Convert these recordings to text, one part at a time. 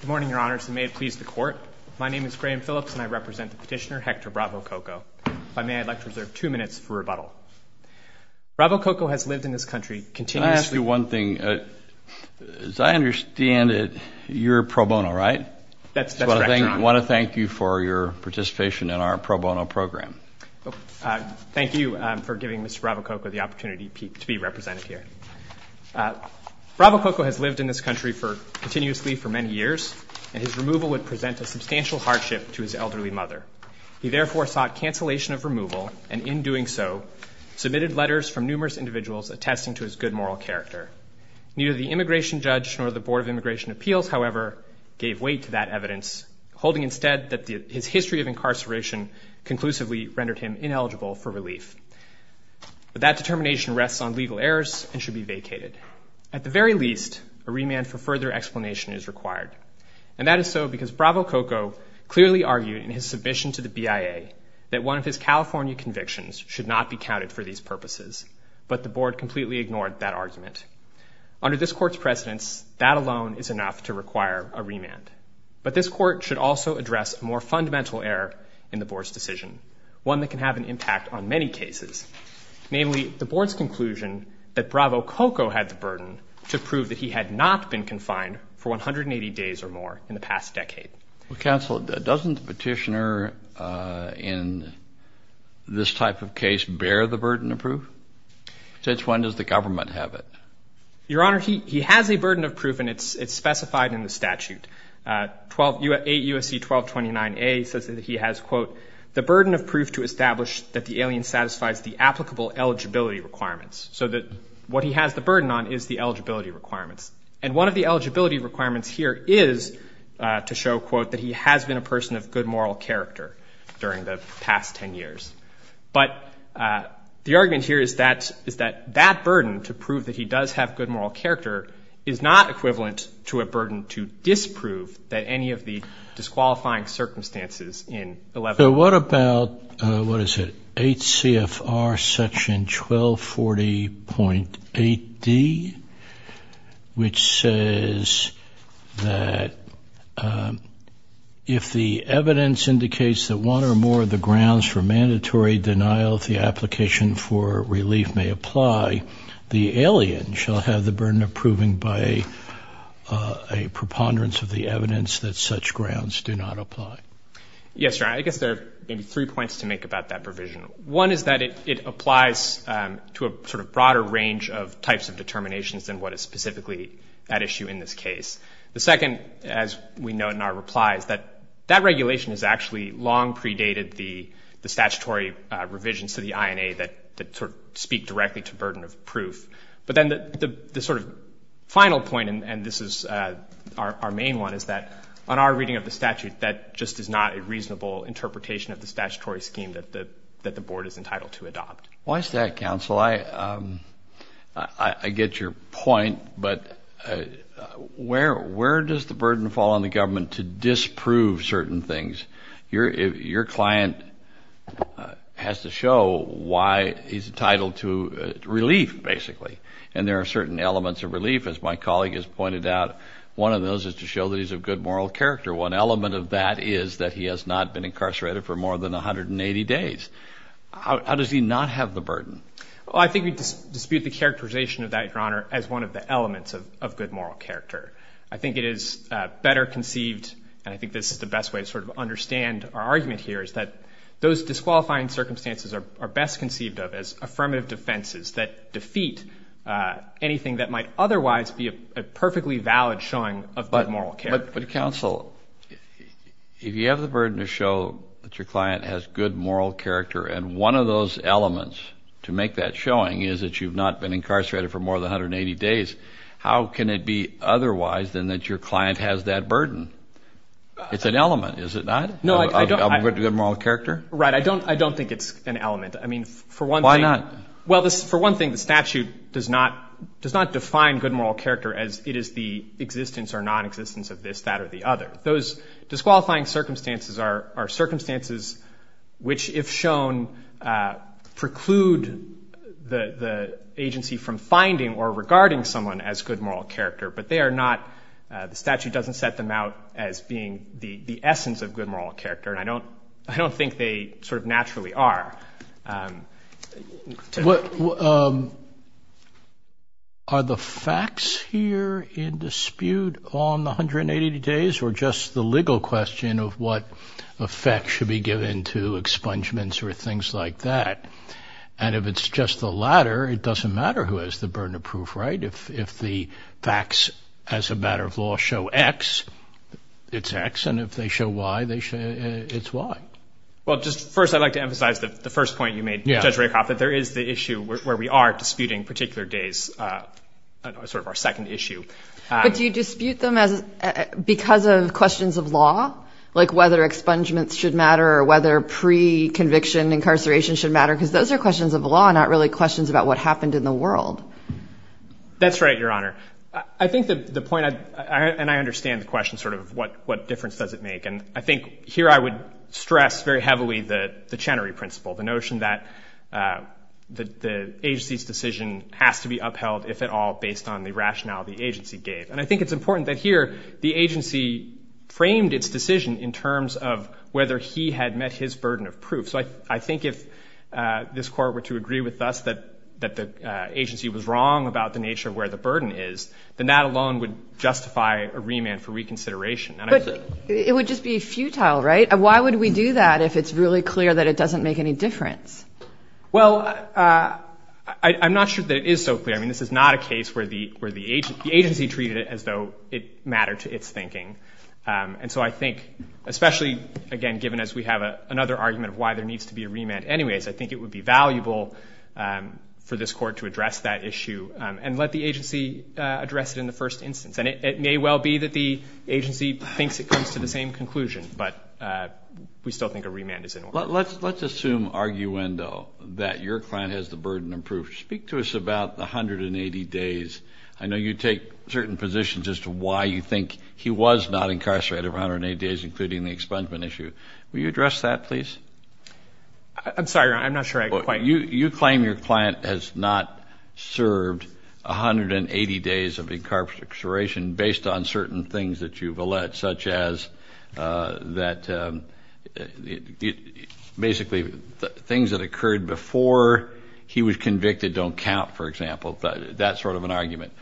Good morning, Your Honors, and may it please the Court, my name is Graham Phillips and I represent the petitioner Hector Bravo-Cocco. If I may, I'd like to reserve two minutes for rebuttal. Bravo-Cocco has lived in this country continuously Can I ask you one thing? As I understand it, you're pro bono, right? That's right, Your Honor. I want to thank you for your participation in our pro bono program. Thank you for giving Mr. Bravo-Cocco the opportunity to be represented here. Bravo-Cocco has lived in this country continuously for many years, and his removal would present a substantial hardship to his elderly mother. He therefore sought cancellation of removal, and in doing so, submitted letters from numerous individuals attesting to his good moral character. Neither the immigration judge nor the Board of Immigration Appeals, however, gave weight to that evidence, holding instead that his history of incarceration conclusively rendered him ineligible for relief. But that determination rests on legal errors and should be vacated. At the very least, a remand for further explanation is required, and that is so because Bravo-Cocco clearly argued in his submission to the BIA that one of his California convictions should not be counted for these purposes, but the Board completely ignored that argument. Under this Court's precedence, that alone is enough to require a remand. But this Court should also address a more fundamental error in the Board's decision, one that can have an impact on many cases, namely the Board's conclusion that Bravo-Cocco had the burden to prove that he had not been confined for 180 days or more in the past decade. Counsel, doesn't the petitioner in this type of case bear the burden of proof? Since when does the government have it? Your Honor, he has a burden of proof, and it's specified in the statute. 8 U.S.C. 1229A says that he has, quote, the burden of proof to establish that the alien satisfies the applicable eligibility requirements, so that what he has the burden on is the eligibility requirements. And one of the eligibility requirements here is to show, quote, that he has been a person of good moral character during the past ten years. But the argument here is that that burden to prove that he does have good moral character is not equivalent to a burden to disprove that any of the disqualifying circumstances in 11- So what about, what is it, 8 CFR section 1240.8D, which says that if the evidence indicates that one or more of the grounds for mandatory denial of the application for relief may apply, the alien shall have the burden of proving by a preponderance of the evidence that such grounds do not apply. Yes, Your Honor. I guess there are maybe three points to make about that provision. One is that it applies to a sort of broader range of types of determinations than what is specifically at issue in this case. The second, as we note in our replies, that that regulation has actually long predated the statutory revisions to the INA that sort of speak directly to burden of proof. But then the sort of final point, and this is our main one, is that on our reading of the statute, that just is not a reasonable interpretation of the statutory scheme that the Board is entitled to adopt. Why is that, counsel? Well, I get your point, but where does the burden fall on the government to disprove certain things? Your client has to show why he's entitled to relief, basically. And there are certain elements of relief, as my colleague has pointed out. One of those is to show that he's of good moral character. One element of that is that he has not been incarcerated for more than 180 days. How does he not have the burden? Well, I think we dispute the characterization of that, Your Honor, as one of the elements of good moral character. I think it is better conceived, and I think this is the best way to sort of understand our argument here, is that those disqualifying circumstances are best conceived of as affirmative defenses that defeat anything that might otherwise be a perfectly valid showing of good moral character. But, counsel, if you have the burden to show that your client has good moral character and one of those elements to make that showing is that you've not been incarcerated for more than 180 days, how can it be otherwise than that your client has that burden? It's an element, is it not, of good moral character? Right. I don't think it's an element. I mean, for one thing — Why not? — does not define good moral character as it is the existence or nonexistence of this, that, or the other. Those disqualifying circumstances are circumstances which, if shown, preclude the agency from finding or regarding someone as good moral character, but they are not — the statute doesn't set them out as being the essence of good moral character, and I don't think they sort of naturally are. Are the facts here in dispute on the 180 days, or just the legal question of what effect should be given to expungements or things like that? And if it's just the latter, it doesn't matter who has the burden of proof, right? If the facts, as a matter of law, show X, it's X, and if they show Y, it's Y. Well, just first I'd like to emphasize the first point you made, Judge Rakoff, that there is the issue where we are disputing particular days, sort of our second issue. But do you dispute them because of questions of law, like whether expungements should matter or whether pre-conviction incarceration should matter? Because those are questions of law, not really questions about what happened in the world. That's right, Your Honor. I think the point — and I understand the question sort of what difference does it make. And I think here I would stress very heavily the Chenery principle, the notion that the agency's decision has to be upheld, if at all, based on the rationale the agency gave. And I think it's important that here the agency framed its decision in terms of whether he had met his burden of proof. So I think if this Court were to agree with us that the agency was wrong about the nature of where the burden is, then that alone would justify a remand for reconsideration. But it would just be futile, right? Why would we do that if it's really clear that it doesn't make any difference? Well, I'm not sure that it is so clear. I mean, this is not a case where the agency treated it as though it mattered to its thinking. And so I think, especially, again, given as we have another argument of why there needs to be a remand anyways, I think it would be valuable for this Court to address that issue and let the agency address it in the first instance. And it may well be that the agency thinks it comes to the same conclusion, but we still think a remand is in order. Let's assume, arguendo, that your client has the burden of proof. Speak to us about the 180 days. I know you take certain positions as to why you think he was not incarcerated for 180 days, including the expungement issue. Will you address that, please? I'm sorry, Your Honor. I'm not sure I can quite. Your Honor, you claim your client has not served 180 days of incarceration based on certain things that you've alleged, such as that basically things that occurred before he was convicted don't count, for example. That's sort of an argument.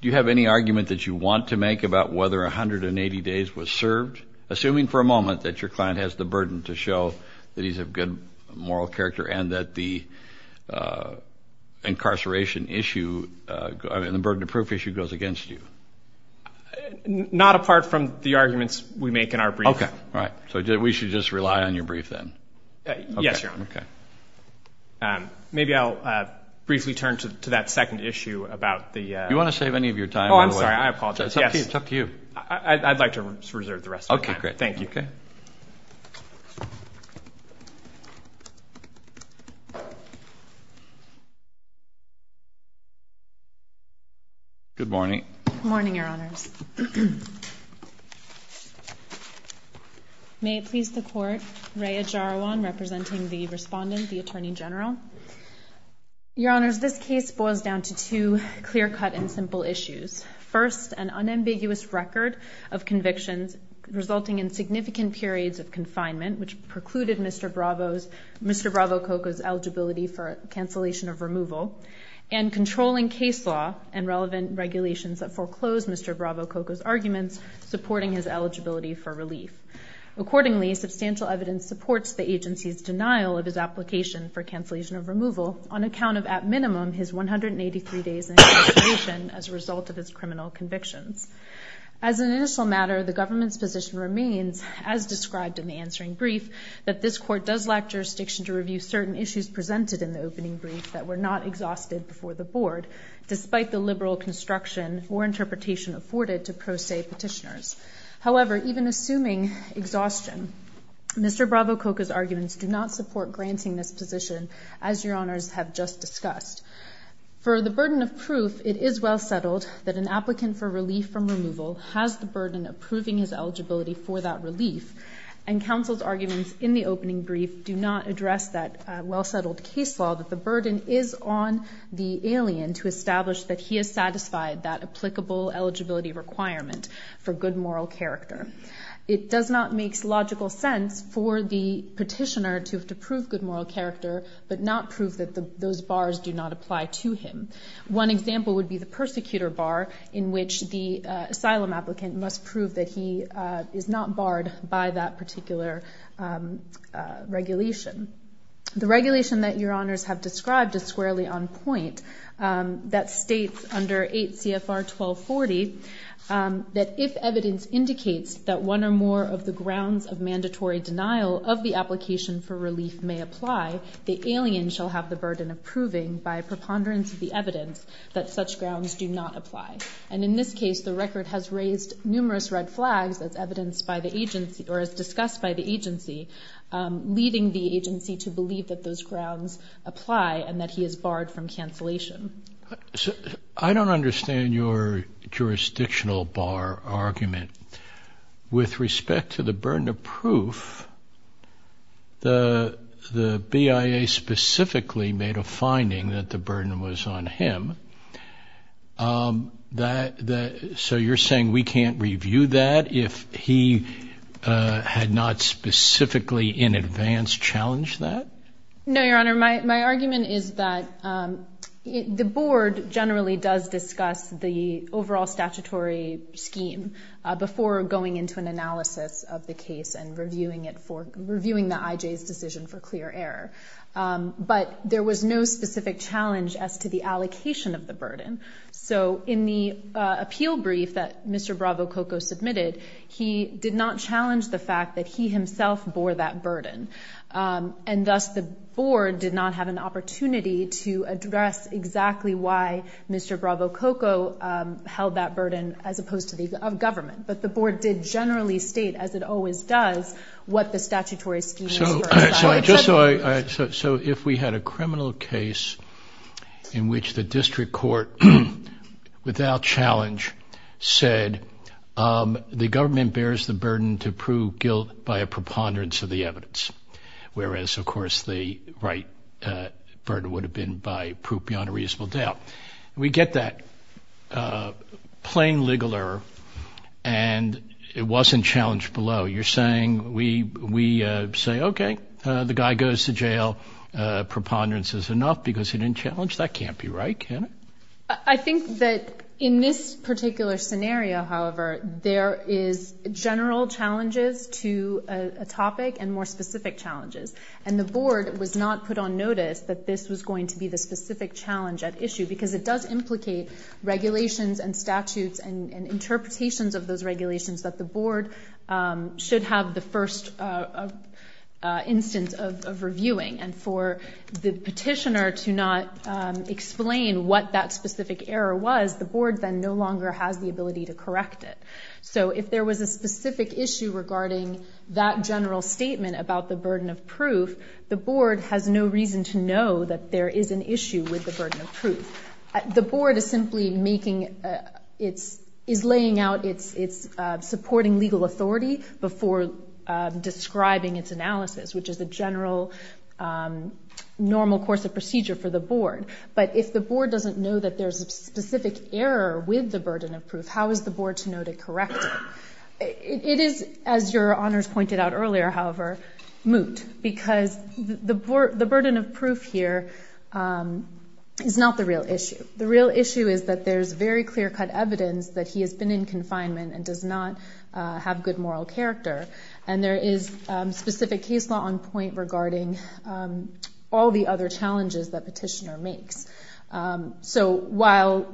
Do you have any argument that you want to make about whether 180 days was served? Assuming for a moment that your client has the burden to show that he's of good moral character and that the incarceration issue and the burden of proof issue goes against you? Not apart from the arguments we make in our brief. All right. So we should just rely on your brief then? Yes, Your Honor. Maybe I'll briefly turn to that second issue about the – Do you want to save any of your time? Oh, I'm sorry. I apologize. It's up to you. I'd like to reserve the rest of my time. Okay, great. Thank you. Okay. Thank you. Good morning. Good morning, Your Honors. May it please the Court, Raya Jarawan representing the respondent, the Attorney General. Your Honors, this case boils down to two clear-cut and simple issues. First, an unambiguous record of convictions resulting in significant periods of confinement, which precluded Mr. Bravo Coco's eligibility for cancellation of removal, and controlling case law and relevant regulations that foreclosed Mr. Bravo Coco's arguments, supporting his eligibility for relief. Accordingly, substantial evidence supports the agency's denial of his application for cancellation of removal on account of, at minimum, his 183 days in his detention as a result of his criminal convictions. As an initial matter, the government's position remains, as described in the answering brief, that this Court does lack jurisdiction to review certain issues presented in the opening brief that were not exhausted before the Board, despite the liberal construction or interpretation afforded to pro se petitioners. However, even assuming exhaustion, Mr. Bravo Coco's arguments do not support granting this position, as Your Honors have just discussed. For the burden of proof, it is well settled that an applicant for relief from removal has the burden of proving his eligibility for that relief, and counsel's arguments in the opening brief do not address that well-settled case law, that the burden is on the alien to establish that he has satisfied that applicable eligibility requirement for good moral character. It does not make logical sense for the petitioner to have to prove good moral character but not prove that those bars do not apply to him. One example would be the persecutor bar, in which the asylum applicant must prove that he is not barred by that particular regulation. The regulation that Your Honors have described is squarely on point. That states under 8 CFR 1240 that if evidence indicates that one or more of the grounds of mandatory denial of the application for relief may apply, the alien shall have the burden of proving by preponderance of the evidence that such grounds do not apply. And in this case, the record has raised numerous red flags as discussed by the agency, leading the agency to believe that those grounds apply and that he is barred from cancellation. I don't understand your jurisdictional bar argument. With respect to the burden of proof, the BIA specifically made a finding that the burden was on him. So you're saying we can't review that if he had not specifically in advance challenged that? No, Your Honor, my argument is that the board generally does discuss the overall statutory scheme before going into an analysis of the case and reviewing the IJ's decision for clear error. But there was no specific challenge as to the allocation of the burden. So in the appeal brief that Mr. Bravo Coco submitted, he did not challenge the fact that he himself bore that burden. And thus, the board did not have an opportunity to address exactly why Mr. Bravo Coco held that burden as opposed to the government. But the board did generally state, as it always does, what the statutory scheme is. So if we had a criminal case in which the district court, without challenge, said the government bears the burden to prove guilt by a preponderance of the evidence, whereas, of course, the right burden would have been by proof beyond a reasonable doubt. We get that plain legal error and it wasn't challenged below. You're saying we say, okay, the guy goes to jail. Preponderance is enough because he didn't challenge. That can't be right, can it? I think that in this particular scenario, however, there is general challenges to a topic and more specific challenges. And the board was not put on notice that this was going to be the specific challenge at issue because it does implicate regulations and statutes and interpretations of those regulations that the board should have the first instance of reviewing. And for the petitioner to not explain what that specific error was, the board then no longer has the ability to correct it. So if there was a specific issue regarding that general statement about the burden of proof, the board has no reason to know that there is an issue with the burden of proof. The board is simply laying out its supporting legal authority before describing its analysis, which is the general normal course of procedure for the board. But if the board doesn't know that there's a specific error with the burden of proof, how is the board to know to correct it? It is, as your honors pointed out earlier, however, moot because the burden of proof here is not the real issue. The real issue is that there's very clear-cut evidence that he has been in confinement and does not have good moral character, and there is specific case law on point regarding all the other challenges that petitioner makes. So while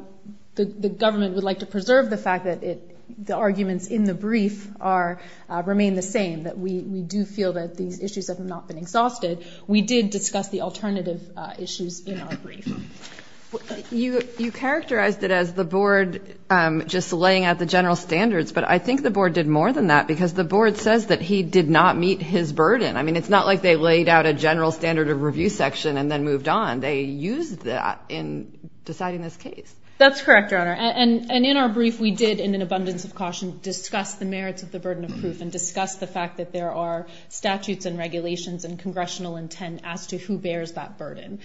the government would like to preserve the fact that the arguments in the brief remain the same, that we do feel that these issues have not been exhausted, we did discuss the alternative issues in our brief. You characterized it as the board just laying out the general standards, but I think the board did more than that because the board says that he did not meet his burden. I mean, it's not like they laid out a general standard of review section and then moved on. They used that in deciding this case. That's correct, your honor. And in our brief, we did, in an abundance of caution, discuss the merits of the burden of proof and discuss the fact that there are statutes and regulations and congressional intent as to who bears that burden.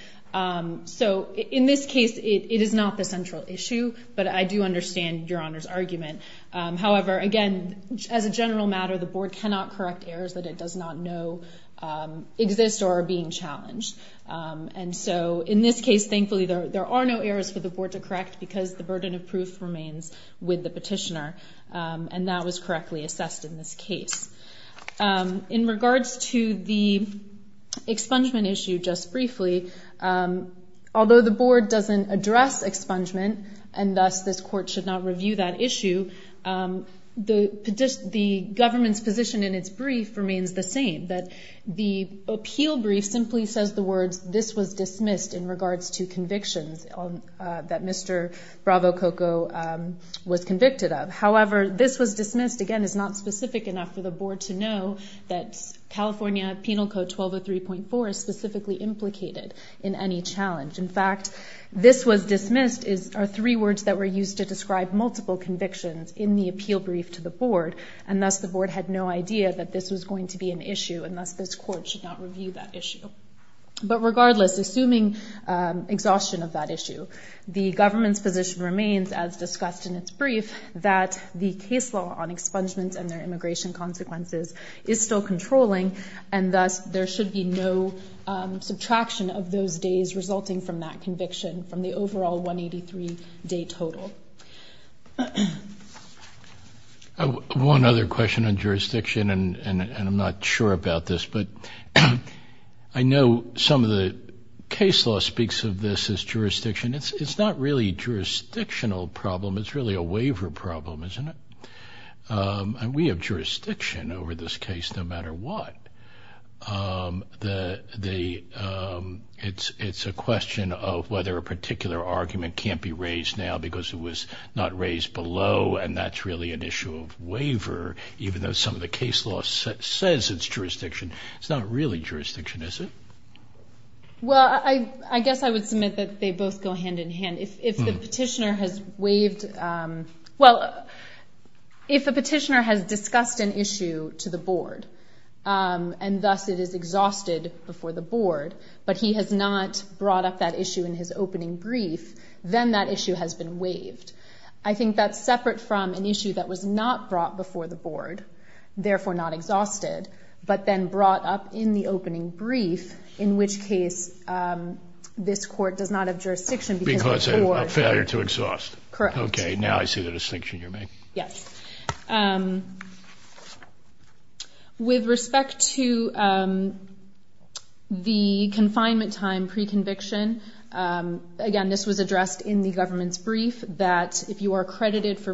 So in this case, it is not the central issue, but I do understand your honor's argument. However, again, as a general matter, the board cannot correct errors that it does not know exist or are being challenged. And so in this case, thankfully, there are no errors for the board to correct because the burden of proof remains with the petitioner, and that was correctly assessed in this case. In regards to the expungement issue, just briefly, although the board doesn't address expungement, and thus this court should not review that issue, the government's position in its brief remains the same, that the appeal brief simply says the words, this was dismissed in regards to convictions that Mr. Bravo Coco was convicted of. However, this was dismissed, again, is not specific enough for the board to know that California Penal Code 1203.4 is specifically implicated in any challenge. In fact, this was dismissed are three words that were used to describe multiple convictions in the appeal brief to the board, and thus the board had no idea that this was going to be an issue, and thus this court should not review that issue. But regardless, assuming exhaustion of that issue, the government's position remains, as discussed in its brief, that the case law on expungements and their immigration consequences is still controlling, and thus there should be no subtraction of those days resulting from that conviction from the overall 183-day total. One other question on jurisdiction, and I'm not sure about this, but I know some of the case law speaks of this as jurisdiction. It's not really a jurisdictional problem. It's really a waiver problem, isn't it? And we have jurisdiction over this case no matter what. It's a question of whether a particular argument can't be raised now because it was not raised below, and that's really an issue of waiver, even though some of the case law says it's jurisdiction. It's not really jurisdiction, is it? Well, I guess I would submit that they both go hand in hand. If the petitioner has discussed an issue to the board, and thus it is exhausted before the board, but he has not brought up that issue in his opening brief, then that issue has been waived. I think that's separate from an issue that was not brought before the board, therefore not exhausted, but then brought up in the opening brief, in which case this court does not have jurisdiction because before the board. Because of a failure to exhaust. Correct. Okay, now I see the distinction you're making. Yes. With respect to the confinement time pre-conviction, again, this was addressed in the government's brief, that if you are credited for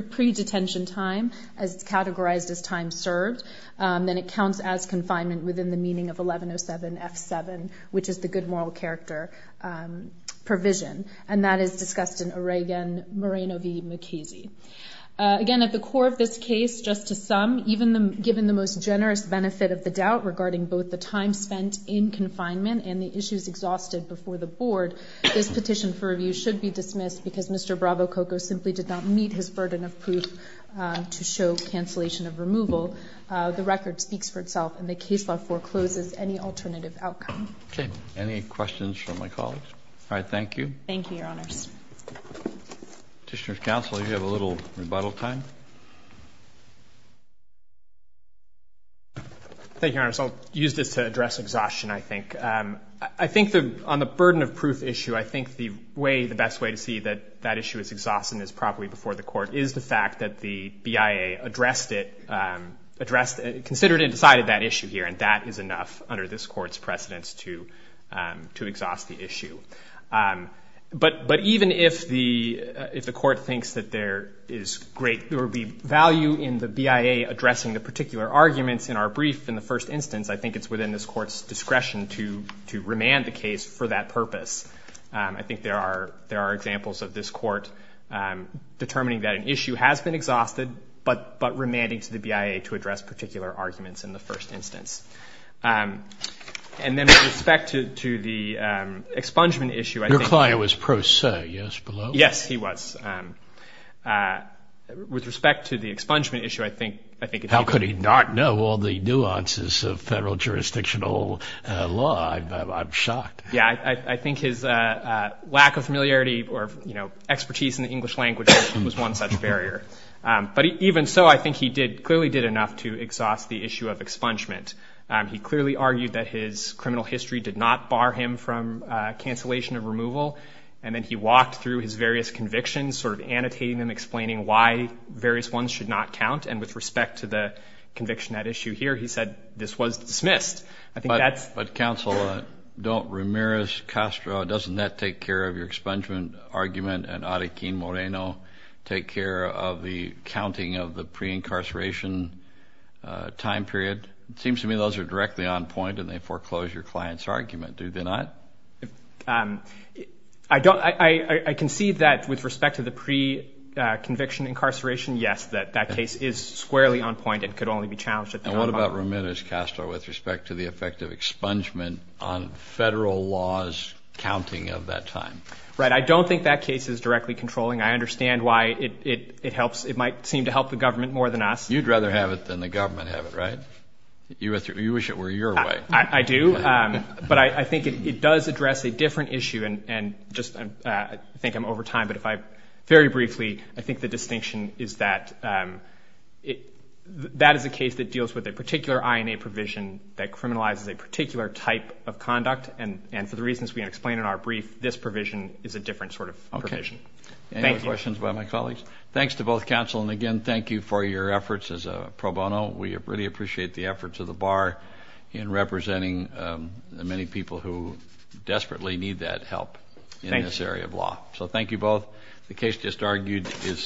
pre-detention time, as it's categorized as time served, then it counts as confinement within the meaning of 1107F7, which is the good moral character provision, and that is discussed in Oregon Moreno v. McKesey. Again, at the core of this case, just to sum, even given the most generous benefit of the doubt regarding both the time spent in confinement and the issues exhausted before the board, this petition for review should be dismissed because Mr. Bravo Coco simply did not meet his burden of proof to show cancellation of removal. The record speaks for itself, and the case law forecloses any alternative outcome. Okay. Any questions from my colleagues? All right. Thank you. Thank you, Your Honors. Petitioner's counsel, you have a little rebuttal time. Thank you, Your Honors. I'll use this to address exhaustion, I think. I think on the burden of proof issue, I think the way, the best way to see that that issue is exhausted and is properly before the court is the fact that the BIA addressed it, considered and decided that issue here, and that is enough under this Court's precedence to exhaust the issue. But even if the Court thinks that there is great, there would be value in the BIA addressing the particular arguments in our brief in the first instance, I think it's within this Court's discretion to remand the case for that purpose. I think there are examples of this Court determining that an issue has been exhausted, but remanding to the BIA to address particular arguments in the first instance. And then with respect to the expungement issue, I think. Your client was pro se, yes, below? Yes, he was. With respect to the expungement issue, I think. How could he not know all the nuances of federal jurisdictional law? I'm shocked. Yes, I think his lack of familiarity or expertise in the English language was one such barrier. But even so, I think he clearly did enough to exhaust the issue of expungement. He clearly argued that his criminal history did not bar him from cancellation of removal, and then he walked through his various convictions, sort of annotating them, and with respect to the conviction at issue here, he said this was dismissed. But, counsel, don't Ramirez-Castro, doesn't that take care of your expungement argument and Arequin-Moreno take care of the counting of the pre-incarceration time period? It seems to me those are directly on point, and they foreclose your client's argument. Do they not? I can see that with respect to the pre-conviction incarceration, yes, that that case is squarely on point. It could only be challenged at the time. And what about Ramirez-Castro with respect to the effect of expungement on federal laws counting of that time? Right. I don't think that case is directly controlling. I understand why it might seem to help the government more than us. You'd rather have it than the government have it, right? You wish it were your way. I do. But I think it does address a different issue, and just I think I'm over time, but if I very briefly I think the distinction is that that is a case that deals with a particular INA provision that criminalizes a particular type of conduct, and for the reasons we explained in our brief, this provision is a different sort of provision. Okay. Thank you. Any other questions about my colleagues? Thanks to both counsel, and, again, thank you for your efforts as a pro bono. We really appreciate the efforts of the bar in representing the many people who desperately need that help in this area of law. So thank you both. The case just argued is